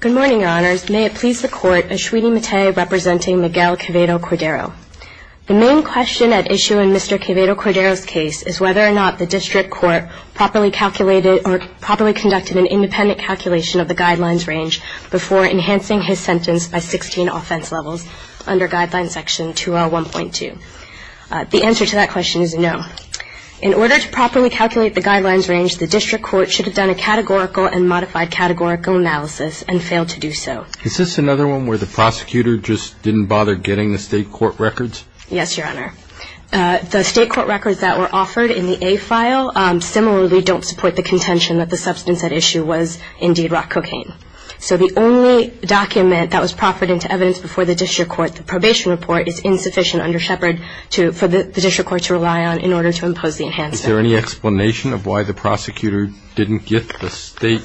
Good morning, your honors. May it please the court, Ashwini Mate representing Miguel Quevedo-Cordero. The main question at issue in Mr. Quevedo-Cordero's case is whether or not the district court properly calculated or properly conducted an independent calculation of the guidelines range before enhancing his sentence by 16 offense levels under guideline section 201.2. The answer to that question is no. In order to properly calculate the guidelines range, the district court should have done a categorical and modified categorical analysis and failed to do so. Is this another one where the prosecutor just didn't bother getting the state court records? Yes, your honor. The state court records that were offered in the A file similarly don't support the contention that the substance at issue was indeed rock cocaine. So the only document that was proffered into evidence before the district court, the probation report, is insufficient under Shepard for the district court to rely on in order to impose the enhancement. Is there any explanation of why the prosecutor didn't get the state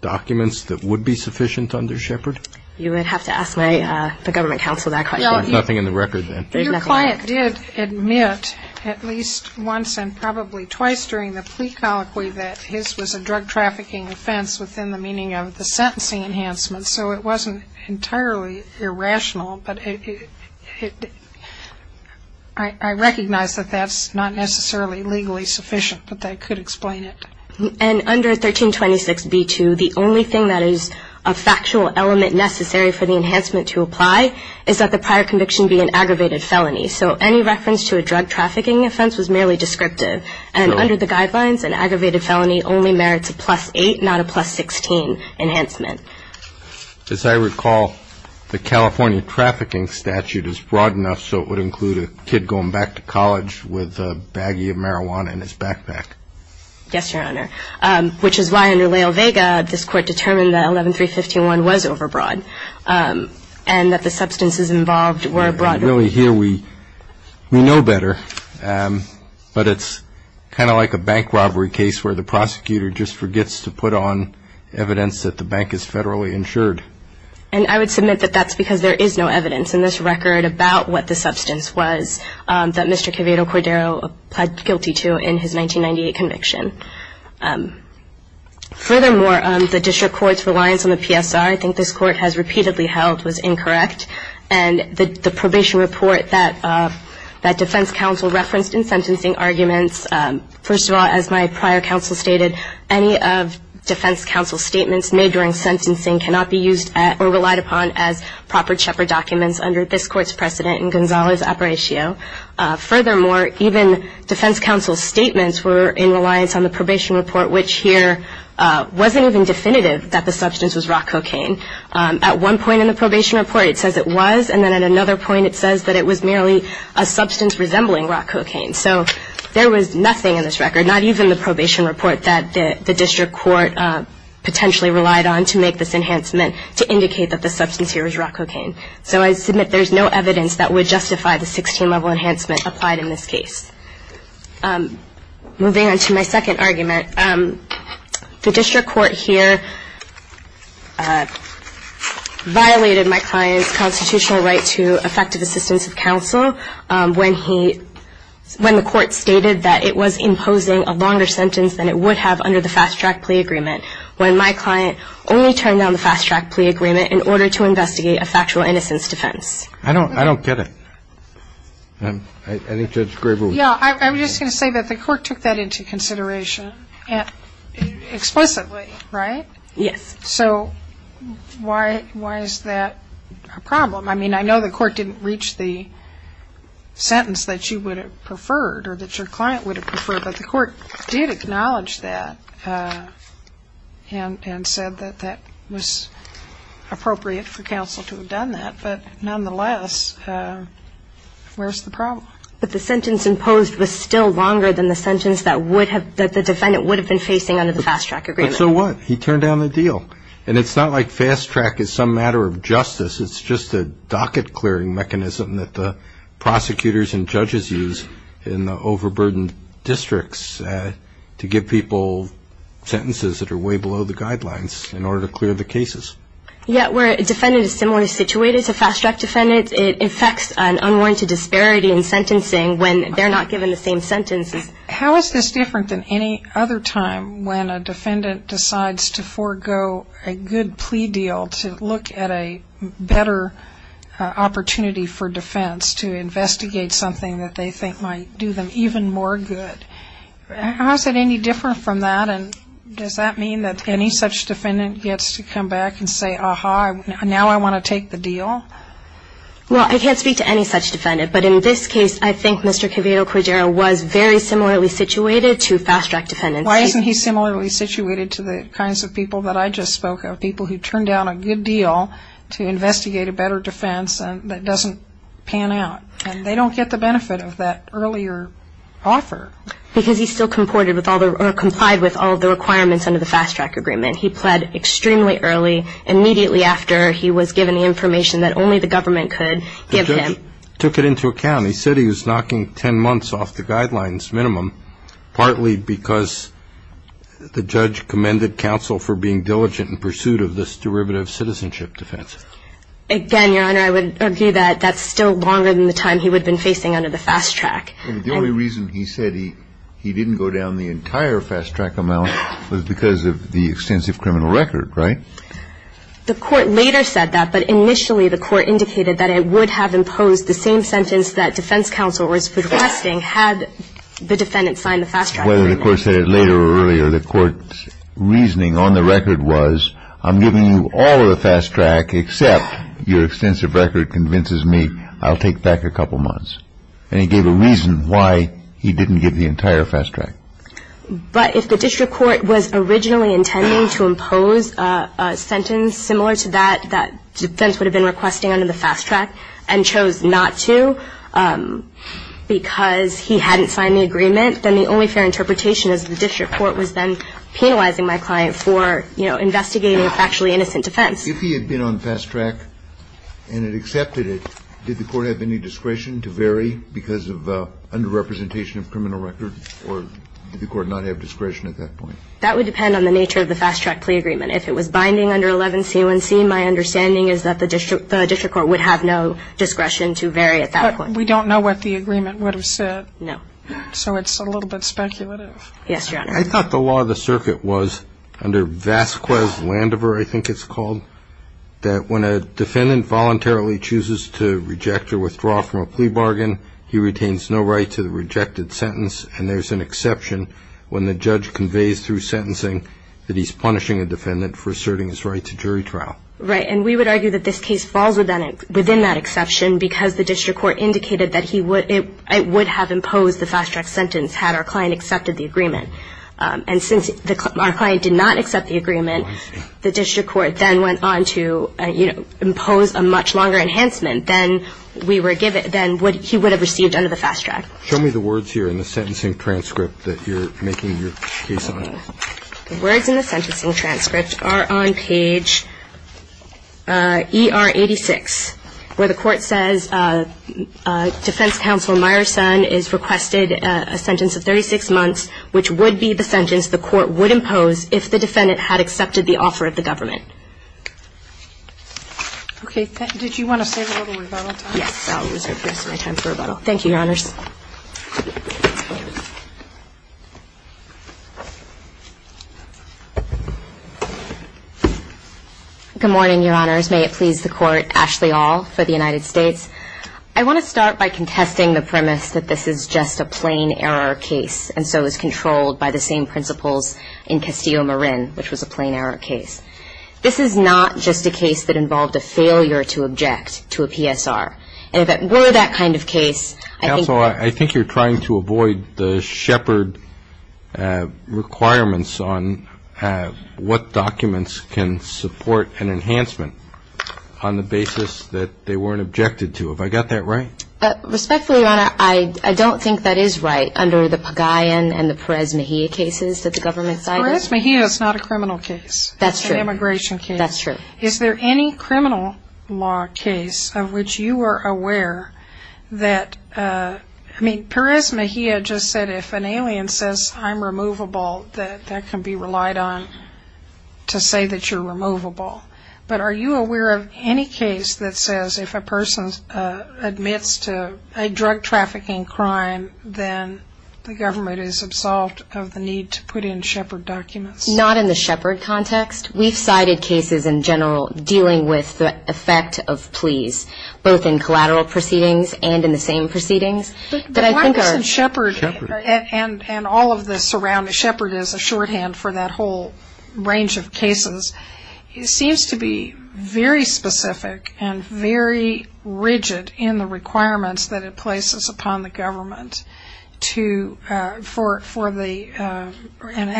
documents that would be sufficient under Shepard? You would have to ask the government counsel that question. There's nothing in the record then. Your client did admit at least once and probably twice during the plea colloquy that his was a drug trafficking offense within the meaning of the sentencing enhancement, so it wasn't entirely irrational. But I recognize that that's not necessarily legally sufficient, but they could explain it. And under 1326b2, the only thing that is a factual element necessary for the enhancement to apply is that the prior conviction be an aggravated felony. So any reference to a drug trafficking offense was merely descriptive. And under the guidelines, an aggravated felony only merits a plus-8, not a plus-16 enhancement. As I recall, the California trafficking statute is broad enough so it would include a kid going back to college with a baggie of marijuana in his backpack. Yes, Your Honor, which is why under Lael Vega, this court determined that 11351 was overbroad and that the substances involved were broad. Really here we know better, but it's kind of like a bank robbery case where the prosecutor just forgets to put on evidence that the bank is federally insured. And I would submit that that's because there is no evidence in this record about what the substance was that Mr. Quevedo Cordero pled guilty to in his 1998 conviction. Furthermore, the district court's reliance on the PSR, I think this court has repeatedly held, was incorrect. And the probation report that defense counsel referenced in sentencing arguments, first of all, as my prior counsel stated, any of defense counsel's statements made during sentencing cannot be used or relied upon as proper CHEPRA documents under this court's precedent in Gonzales-Aparicio. Furthermore, even defense counsel's statements were in reliance on the probation report, which here wasn't even definitive that the substance was raw cocaine. At one point in the probation report it says it was, and then at another point it says that it was merely a substance resembling raw cocaine. So there was nothing in this record, not even the probation report, that the district court potentially relied on to make this enhancement to indicate that the substance here was raw cocaine. So I submit there's no evidence that would justify the 16-level enhancement applied in this case. Moving on to my second argument, the district court here violated my client's constitutional right to effective assistance of counsel when he, when the court stated that it was imposing a longer sentence than it would have under the fast-track plea agreement, when my client only turned down the fast-track plea agreement in order to investigate a factual innocence defense. I don't get it. I think Judge Graber would. Yeah. I'm just going to say that the court took that into consideration explicitly, right? Yes. So why is that a problem? I mean, I know the court didn't reach the sentence that you would have preferred or that your client would have preferred, but the court did acknowledge that and said that that was appropriate for counsel to have done that. But nonetheless, where's the problem? But the sentence imposed was still longer than the sentence that would have, that the defendant would have been facing under the fast-track agreement. But so what? He turned down the deal. And it's not like fast-track is some matter of justice. It's just a docket-clearing mechanism that the prosecutors and judges use in the overburdened districts to give people sentences that are way below the guidelines in order to clear the cases. Yeah. Where a defendant is similarly situated to fast-track defendants, it affects an unwarranted disparity in sentencing when they're not given the same sentences. How is this different than any other time when a defendant decides to forego a good plea deal to look at a better opportunity for defense, to investigate something that they think might do them even more good? How is it any different from that? And does that mean that any such defendant gets to come back and say, Aha, now I want to take the deal? Well, I can't speak to any such defendant. But in this case, I think Mr. Quevedo-Cordero was very similarly situated to fast-track defendants. Why isn't he similarly situated to the kinds of people that I just spoke of, people who turned down a good deal to investigate a better defense that doesn't pan out? And they don't get the benefit of that earlier offer. Because he still complied with all the requirements under the fast-track agreement. He pled extremely early, immediately after he was given the information that only the government could give him. The judge took it into account. He said he was knocking 10 months off the guidelines minimum, partly because the judge commended counsel for being diligent in pursuit of this derivative citizenship defense. Again, Your Honor, I would argue that that's still longer than the time he would have been facing under the fast-track. The only reason he said he didn't go down the entire fast-track amount was because of the extensive criminal record, right? The court later said that, but initially the court indicated that it would have imposed the same sentence that defense counsel was requesting had the defendant signed the fast-track agreement. Whether the court said it later or earlier, the court's reasoning on the record was I'm giving you all of the fast-track except your extensive record convinces me I'll take back a couple months. And he gave a reason why he didn't give the entire fast-track. But if the district court was originally intending to impose a sentence similar to that that defense would have been requesting under the fast-track and chose not to because he hadn't signed the agreement, then the only fair interpretation is the district court was then penalizing my client for, you know, investigating a factually innocent defense. If he had been on fast-track and had accepted it, did the court have any discretion to vary because of underrepresentation of criminal record or did the court not have discretion at that point? That would depend on the nature of the fast-track plea agreement. If it was binding under 11C1C, my understanding is that the district court would have no discretion to vary at that point. But we don't know what the agreement would have said. No. So it's a little bit speculative. Yes, Your Honor. I thought the law of the circuit was under Vasquez-Landover, I think it's called, that when a defendant voluntarily chooses to reject or withdraw from a plea bargain, he retains no right to the rejected sentence, and there's an exception when the judge conveys through sentencing that he's punishing a defendant for asserting his right to jury trial. Right, and we would argue that this case falls within that exception because the district court indicated that it would have imposed the fast-track sentence had our client accepted the agreement. And since our client did not accept the agreement, the district court then went on to impose a much longer enhancement than he would have received under the fast-track. Show me the words here in the sentencing transcript that you're making your case on. The words in the sentencing transcript are on page ER86, where the court says defense counsel Meyerson is requested a sentence of 36 months, which would be the sentence the court would impose if the defendant had accepted the offer of the government. Okay. Did you want to save a little rebuttal time? Yes, I'll reserve the rest of my time for rebuttal. Thank you, Your Honors. Good morning, Your Honors. May it please the Court, Ashley Aul for the United States. I want to start by contesting the premise that this is just a plain error case and so is controlled by the same principles in Castillo-Marin, which was a plain error case. This is not just a case that involved a failure to object to a PSR. And if it were that kind of case, I think you're trying to avoid the shepherd requirements on what documents can support an enhancement on the basis that they weren't objected to. Have I got that right? Respectfully, Your Honor, I don't think that is right under the Pagayan and the Perez-Mejia cases that the government cited. Perez-Mejia is not a criminal case. That's true. It's an immigration case. That's true. Is there any criminal law case of which you are aware that, I mean, to say that you're removable? But are you aware of any case that says if a person admits to a drug-trafficking crime, then the government is absolved of the need to put in shepherd documents? Not in the shepherd context. We've cited cases in general dealing with the effect of pleas, both in collateral proceedings and in the same proceedings. But why doesn't shepherd, and all of this around the shepherd is a shorthand for that whole range of cases, seems to be very specific and very rigid in the requirements that it places upon the government and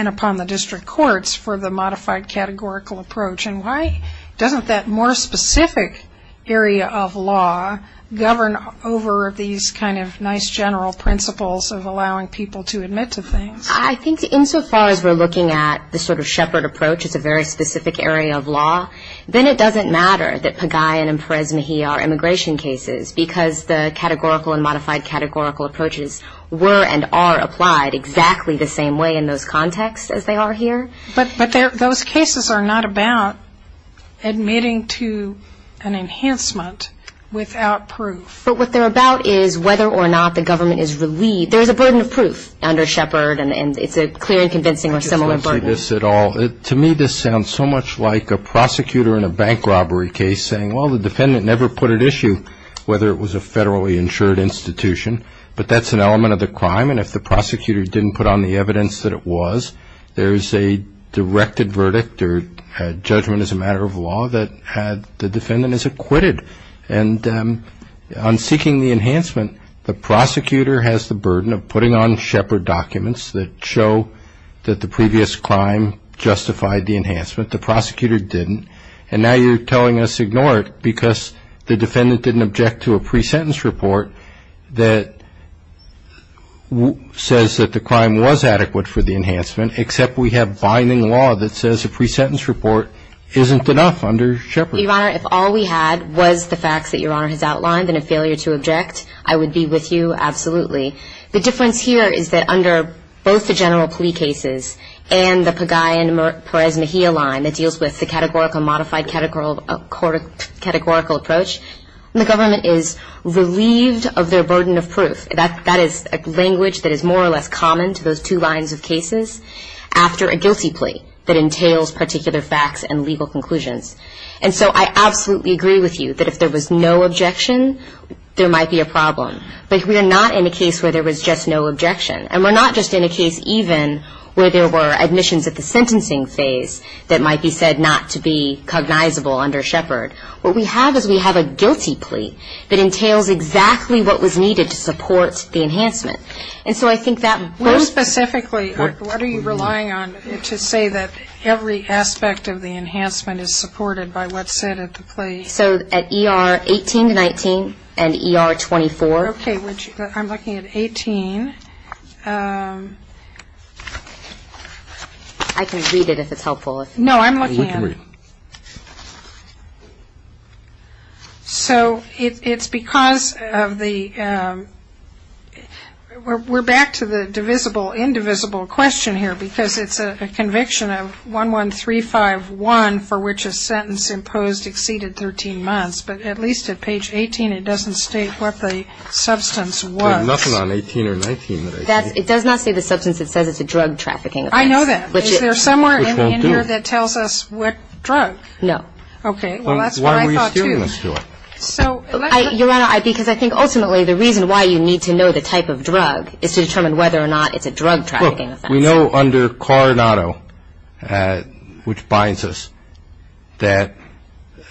upon the district courts for the modified categorical approach? And why doesn't that more specific area of law govern over these kind of nice general principles of allowing people to admit to things? I think insofar as we're looking at the sort of shepherd approach as a very specific area of law, then it doesn't matter that Pagayan and Perez-Mejia are immigration cases because the categorical and modified categorical approaches were and are applied exactly the same way in those contexts as they are here. But those cases are not about admitting to an enhancement without proof. But what they're about is whether or not the government is relieved. There's a burden of proof under shepherd, and it's a clear and convincing or similar burden. To me, this sounds so much like a prosecutor in a bank robbery case saying, well, the defendant never put at issue whether it was a federally insured institution, but that's an element of the crime, and if the prosecutor didn't put on the evidence that it was, there's a directed verdict or judgment as a matter of law that the defendant is acquitted. And on seeking the enhancement, the prosecutor has the burden of putting on shepherd documents that show that the previous crime justified the enhancement, the prosecutor didn't, and now you're telling us ignore it because the defendant didn't object to a pre-sentence report that says that the crime was adequate for the enhancement, except we have binding law that says a pre-sentence report isn't enough under shepherd. Your Honor, if all we had was the facts that Your Honor has outlined and a failure to object, I would be with you absolutely. The difference here is that under both the general plea cases and the Pagai and Perez-Mejia line that deals with the categorical modified categorical approach, the government is relieved of their burden of proof. That is a language that is more or less common to those two lines of cases after a guilty plea that entails particular facts and legal conclusions. And so I absolutely agree with you that if there was no objection, there might be a problem. But we are not in a case where there was just no objection, and we're not just in a case even where there were admissions at the sentencing phase that might be said not to be cognizable under shepherd. What we have is we have a guilty plea that entails exactly what was needed to support the enhancement. And so I think that most of the... Well, specifically, what are you relying on to say that every aspect of the enhancement is supported by what's said at the plea? So at ER 18 to 19 and ER 24. Okay. I'm looking at 18. I can read it if it's helpful. No, I'm looking at... So it's because of the... We're back to the divisible, indivisible question here because it's a conviction of 11351 for which a sentence imposed exceeded 13 months. But at least at page 18, it doesn't state what the substance was. There's nothing on 18 or 19 that I see. It does not say the substance. It says it's a drug trafficking offense. I know that. Is there somewhere in here that tells us what drug? No. Okay. Well, that's what I thought too. Why are we assuming this to it? Your Honor, because I think ultimately the reason why you need to know the type of drug is to determine whether or not it's a drug trafficking offense. We know under Coronado, which binds us, that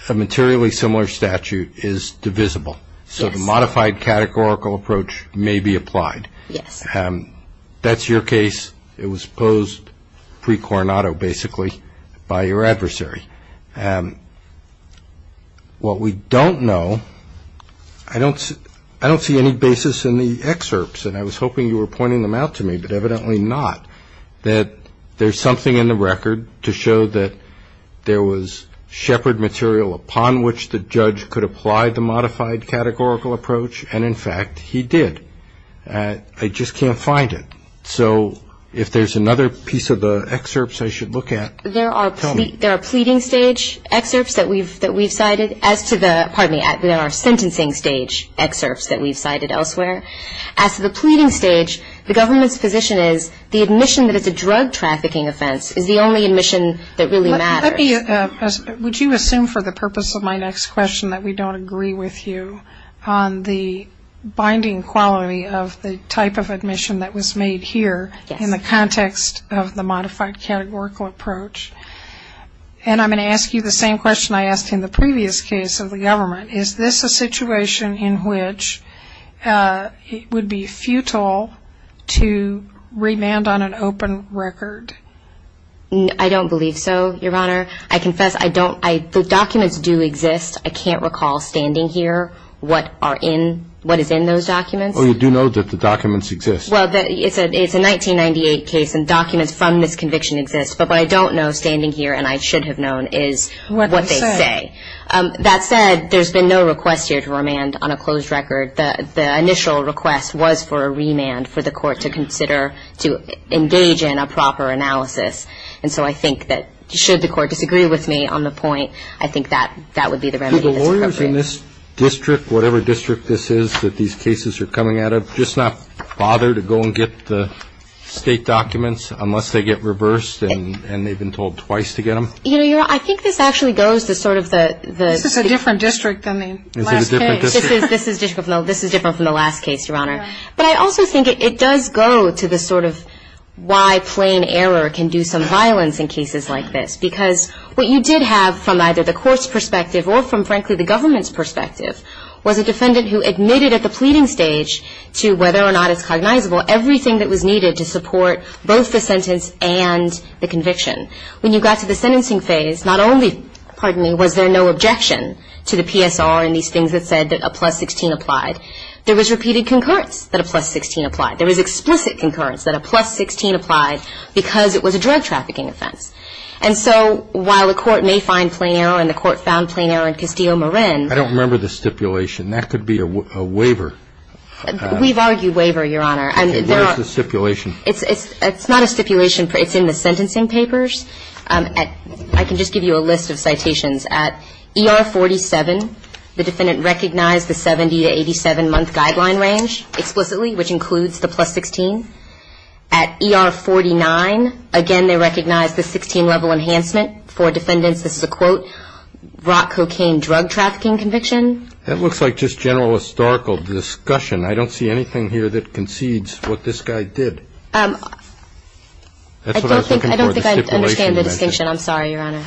a materially similar statute is divisible. So the modified categorical approach may be applied. Yes. That's your case. It was posed pre-Coronado, basically, by your adversary. What we don't know, I don't see any basis in the excerpts, and I was hoping you were pointing them out to me, but evidently not, that there's something in the record to show that there was shepherd material upon which the judge could apply the modified categorical approach, and in fact, he did. I just can't find it. So if there's another piece of the excerpts I should look at, tell me. There are pleading stage excerpts that we've cited as to the, pardon me, there are sentencing stage excerpts that we've cited elsewhere. As to the pleading stage, the government's position is the admission that it's a drug trafficking offense is the only admission that really matters. Would you assume for the purpose of my next question that we don't agree with you on the binding quality of the type of admission that was made here in the context of the modified categorical approach? And I'm going to ask you the same question I asked in the previous case of the government. Is this a situation in which it would be futile to remand on an open record? I don't believe so, Your Honor. I confess the documents do exist. I can't recall standing here what is in those documents. Well, you do know that the documents exist. Well, it's a 1998 case, and documents from this conviction exist. But what I don't know standing here, and I should have known, is what they say. That said, there's been no request here to remand on a closed record. The initial request was for a remand for the court to consider to engage in a proper analysis. And so I think that should the court disagree with me on the point, I think that would be the remedy that's appropriate. Do the lawyers in this district, whatever district this is that these cases are coming out of, just not bother to go and get the State documents unless they get reversed and they've been told twice to get them? You know, Your Honor, I think this actually goes to sort of the ---- This is a different district than the last case. This is different from the last case, Your Honor. But I also think it does go to the sort of why plain error can do some violence in cases like this. Because what you did have from either the court's perspective or from, frankly, the government's perspective, was a defendant who admitted at the pleading stage to whether or not it's cognizable everything that was needed to support both the sentence and the conviction. When you got to the sentencing phase, not only was there no objection to the PSR and these things that said that a plus 16 applied, there was repeated concurrence that a plus 16 applied. There was explicit concurrence that a plus 16 applied because it was a drug trafficking offense. And so while the court may find plain error, and the court found plain error in Castillo-Morin. I don't remember the stipulation. That could be a waiver. We've argued waiver, Your Honor. Okay. Where is the stipulation? It's not a stipulation. It's in the sentencing papers. I can just give you a list of citations. At ER 47, the defendant recognized the 70 to 87-month guideline range explicitly, which includes the plus 16. At ER 49, again, they recognized the 16-level enhancement for defendants. This is a, quote, rock cocaine drug trafficking conviction. That looks like just general historical discussion. I don't see anything here that concedes what this guy did. That's what I was looking for, the stipulation. I don't think I understand the distinction. I'm sorry, Your Honor.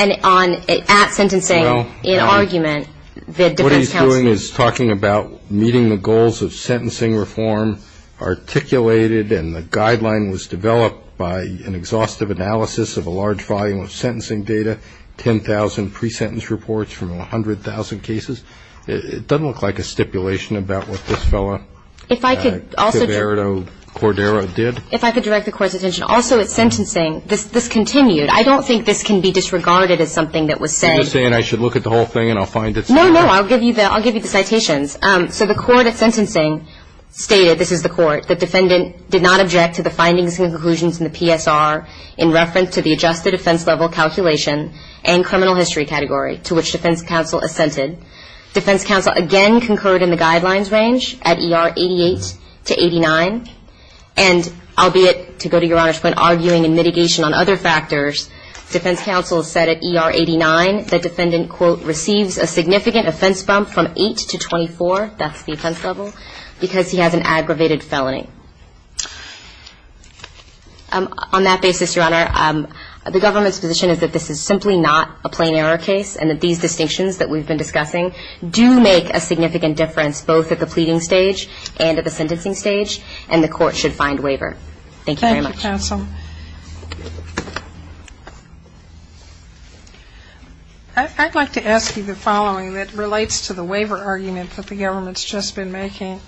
And on at sentencing in argument, the defense counsel. What he's doing is talking about meeting the goals of sentencing reform, articulated, and the guideline was developed by an exhaustive analysis of a large volume of sentencing data, 10,000 pre-sentence reports from 100,000 cases. It doesn't look like a stipulation about what this fellow. If I could also. Gerardo Cordero did. If I could direct the court's attention. Also, at sentencing, this continued. I don't think this can be disregarded as something that was said. You're just saying I should look at the whole thing and I'll find it. No, no, I'll give you the citations. So the court at sentencing stated, this is the court, the defendant did not object to the findings and conclusions in the PSR in reference to the adjusted offense level calculation and criminal history category to which defense counsel assented. Defense counsel again concurred in the guidelines range at ER 88 to 89, and albeit to go to Your Honor's point, arguing in mitigation on other factors, defense counsel said at ER 89 the defendant, quote, receives a significant offense bump from 8 to 24, that's the offense level, because he has an aggravated felony. On that basis, Your Honor, the government's position is that this is simply not a plain error case and that these distinctions that we've been discussing do make a significant difference, both at the pleading stage and at the sentencing stage, and the court should find waiver. Thank you very much. Thank you, counsel. I'd like to ask you the following that relates to the waiver argument that the government's just been making.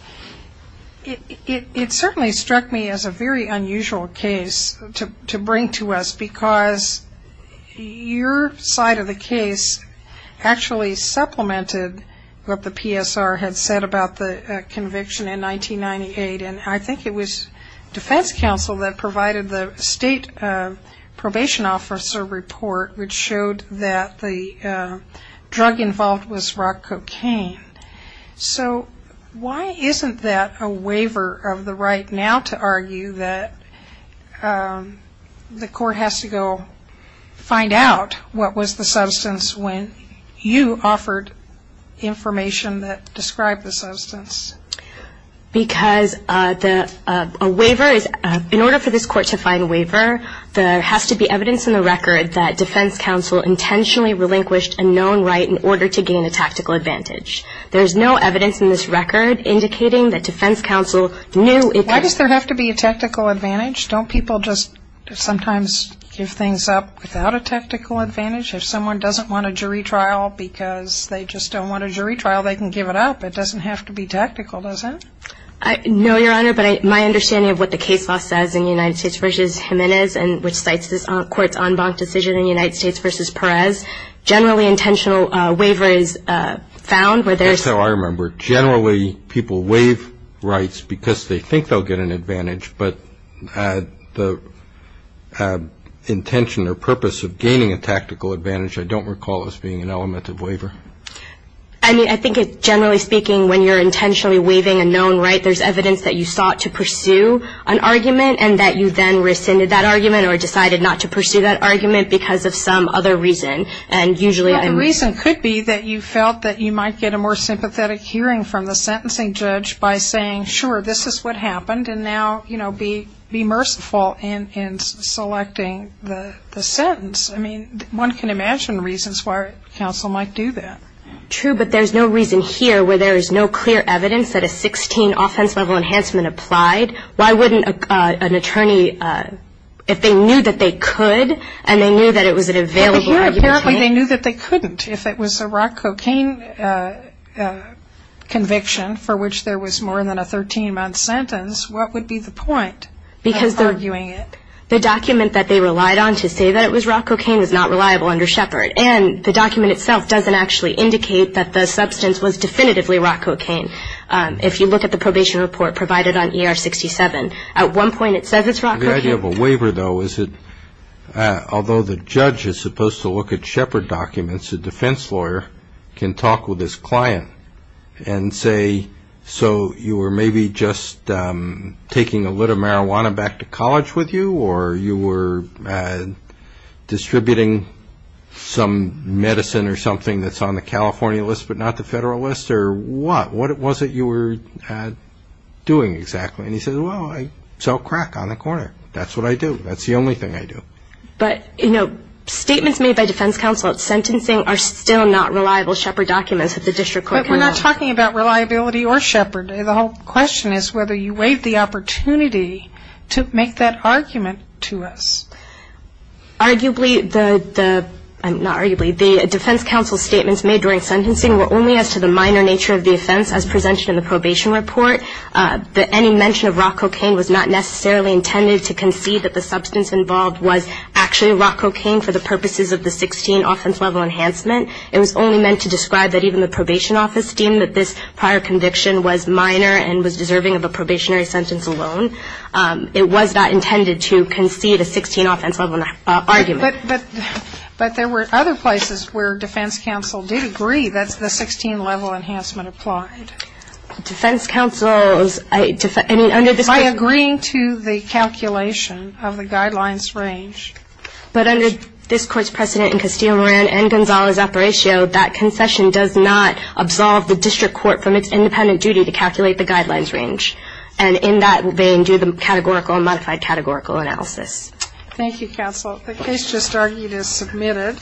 It certainly struck me as a very unusual case to bring to us, because your side of the case actually supplemented what the PSR had said about the conviction in 1998, and I think it was defense counsel that provided the state probation officer report, which showed that the drug involved was rock cocaine. So why isn't that a waiver of the right now to argue that the court has to go find out what was the substance when you offered information that described the substance? Because a waiver is, in order for this court to find a waiver, there has to be evidence in the record that defense counsel intentionally relinquished a known right in order to gain a tactical advantage. There's no evidence in this record indicating that defense counsel knew it could. Why does there have to be a tactical advantage? Don't people just sometimes give things up without a tactical advantage? If someone doesn't want a jury trial because they just don't want a jury trial, they can give it up. It doesn't have to be tactical, does it? No, Your Honor, but my understanding of what the case law says in United States v. Jimenez, which cites this court's en banc decision in United States v. Perez, generally intentional waiver is found. That's how I remember it. Generally, people waive rights because they think they'll get an advantage, but the intention or purpose of gaining a tactical advantage I don't recall as being an element of waiver. I mean, I think generally speaking, when you're intentionally waiving a known right, there's evidence that you sought to pursue an argument and that you then rescinded that argument. Or decided not to pursue that argument because of some other reason. And usually I'm... Well, the reason could be that you felt that you might get a more sympathetic hearing from the sentencing judge by saying, sure, this is what happened, and now, you know, be merciful in selecting the sentence. I mean, one can imagine reasons why counsel might do that. True, but there's no reason here where there is no clear evidence that a 16 offense level enhancement applied. Why wouldn't an attorney, if they knew that they could, and they knew that it was an available argument... But here apparently they knew that they couldn't. If it was a rock cocaine conviction for which there was more than a 13-month sentence, what would be the point of arguing it? Because the document that they relied on to say that it was rock cocaine is not reliable under Shepard. And the document itself doesn't actually indicate that the substance was definitively rock cocaine. If you look at the probation report provided on ER 67, at one point it says it's rock cocaine. The idea of a waiver, though, is that although the judge is supposed to look at Shepard documents, a defense lawyer can talk with his client and say, so you were maybe just taking a lit of marijuana back to college with you, or you were distributing some medicine or something that's on the California list but not the federal list, or what? What was it you were doing exactly? And he says, well, I sell crack on the corner. That's what I do. That's the only thing I do. But, you know, statements made by defense counsel at sentencing are still not reliable Shepard documents that the district court... But we're not talking about reliability or Shepard. The whole question is whether you waive the opportunity to make that argument to us. Arguably, the defense counsel's statements made during sentencing were only as to the minor nature of the offense as presented in the probation report. Any mention of rock cocaine was not necessarily intended to concede that the substance involved was actually rock cocaine for the purposes of the 16 offense level enhancement. It was only meant to describe that even the probation office deemed that this prior conviction was minor and was deserving of a probationary sentence alone. It was not intended to concede a 16 offense level argument. But there were other places where defense counsel did agree that the 16 level enhancement applied. Defense counsel's... By agreeing to the calculation of the guidelines range. But under this Court's precedent in Castillo-Moran and Gonzales-Apparicio, that concession does not absolve the district court from its independent duty to calculate the guidelines range. And in that vein, do the categorical and modified categorical analysis. Thank you, counsel. The case just argued is submitted.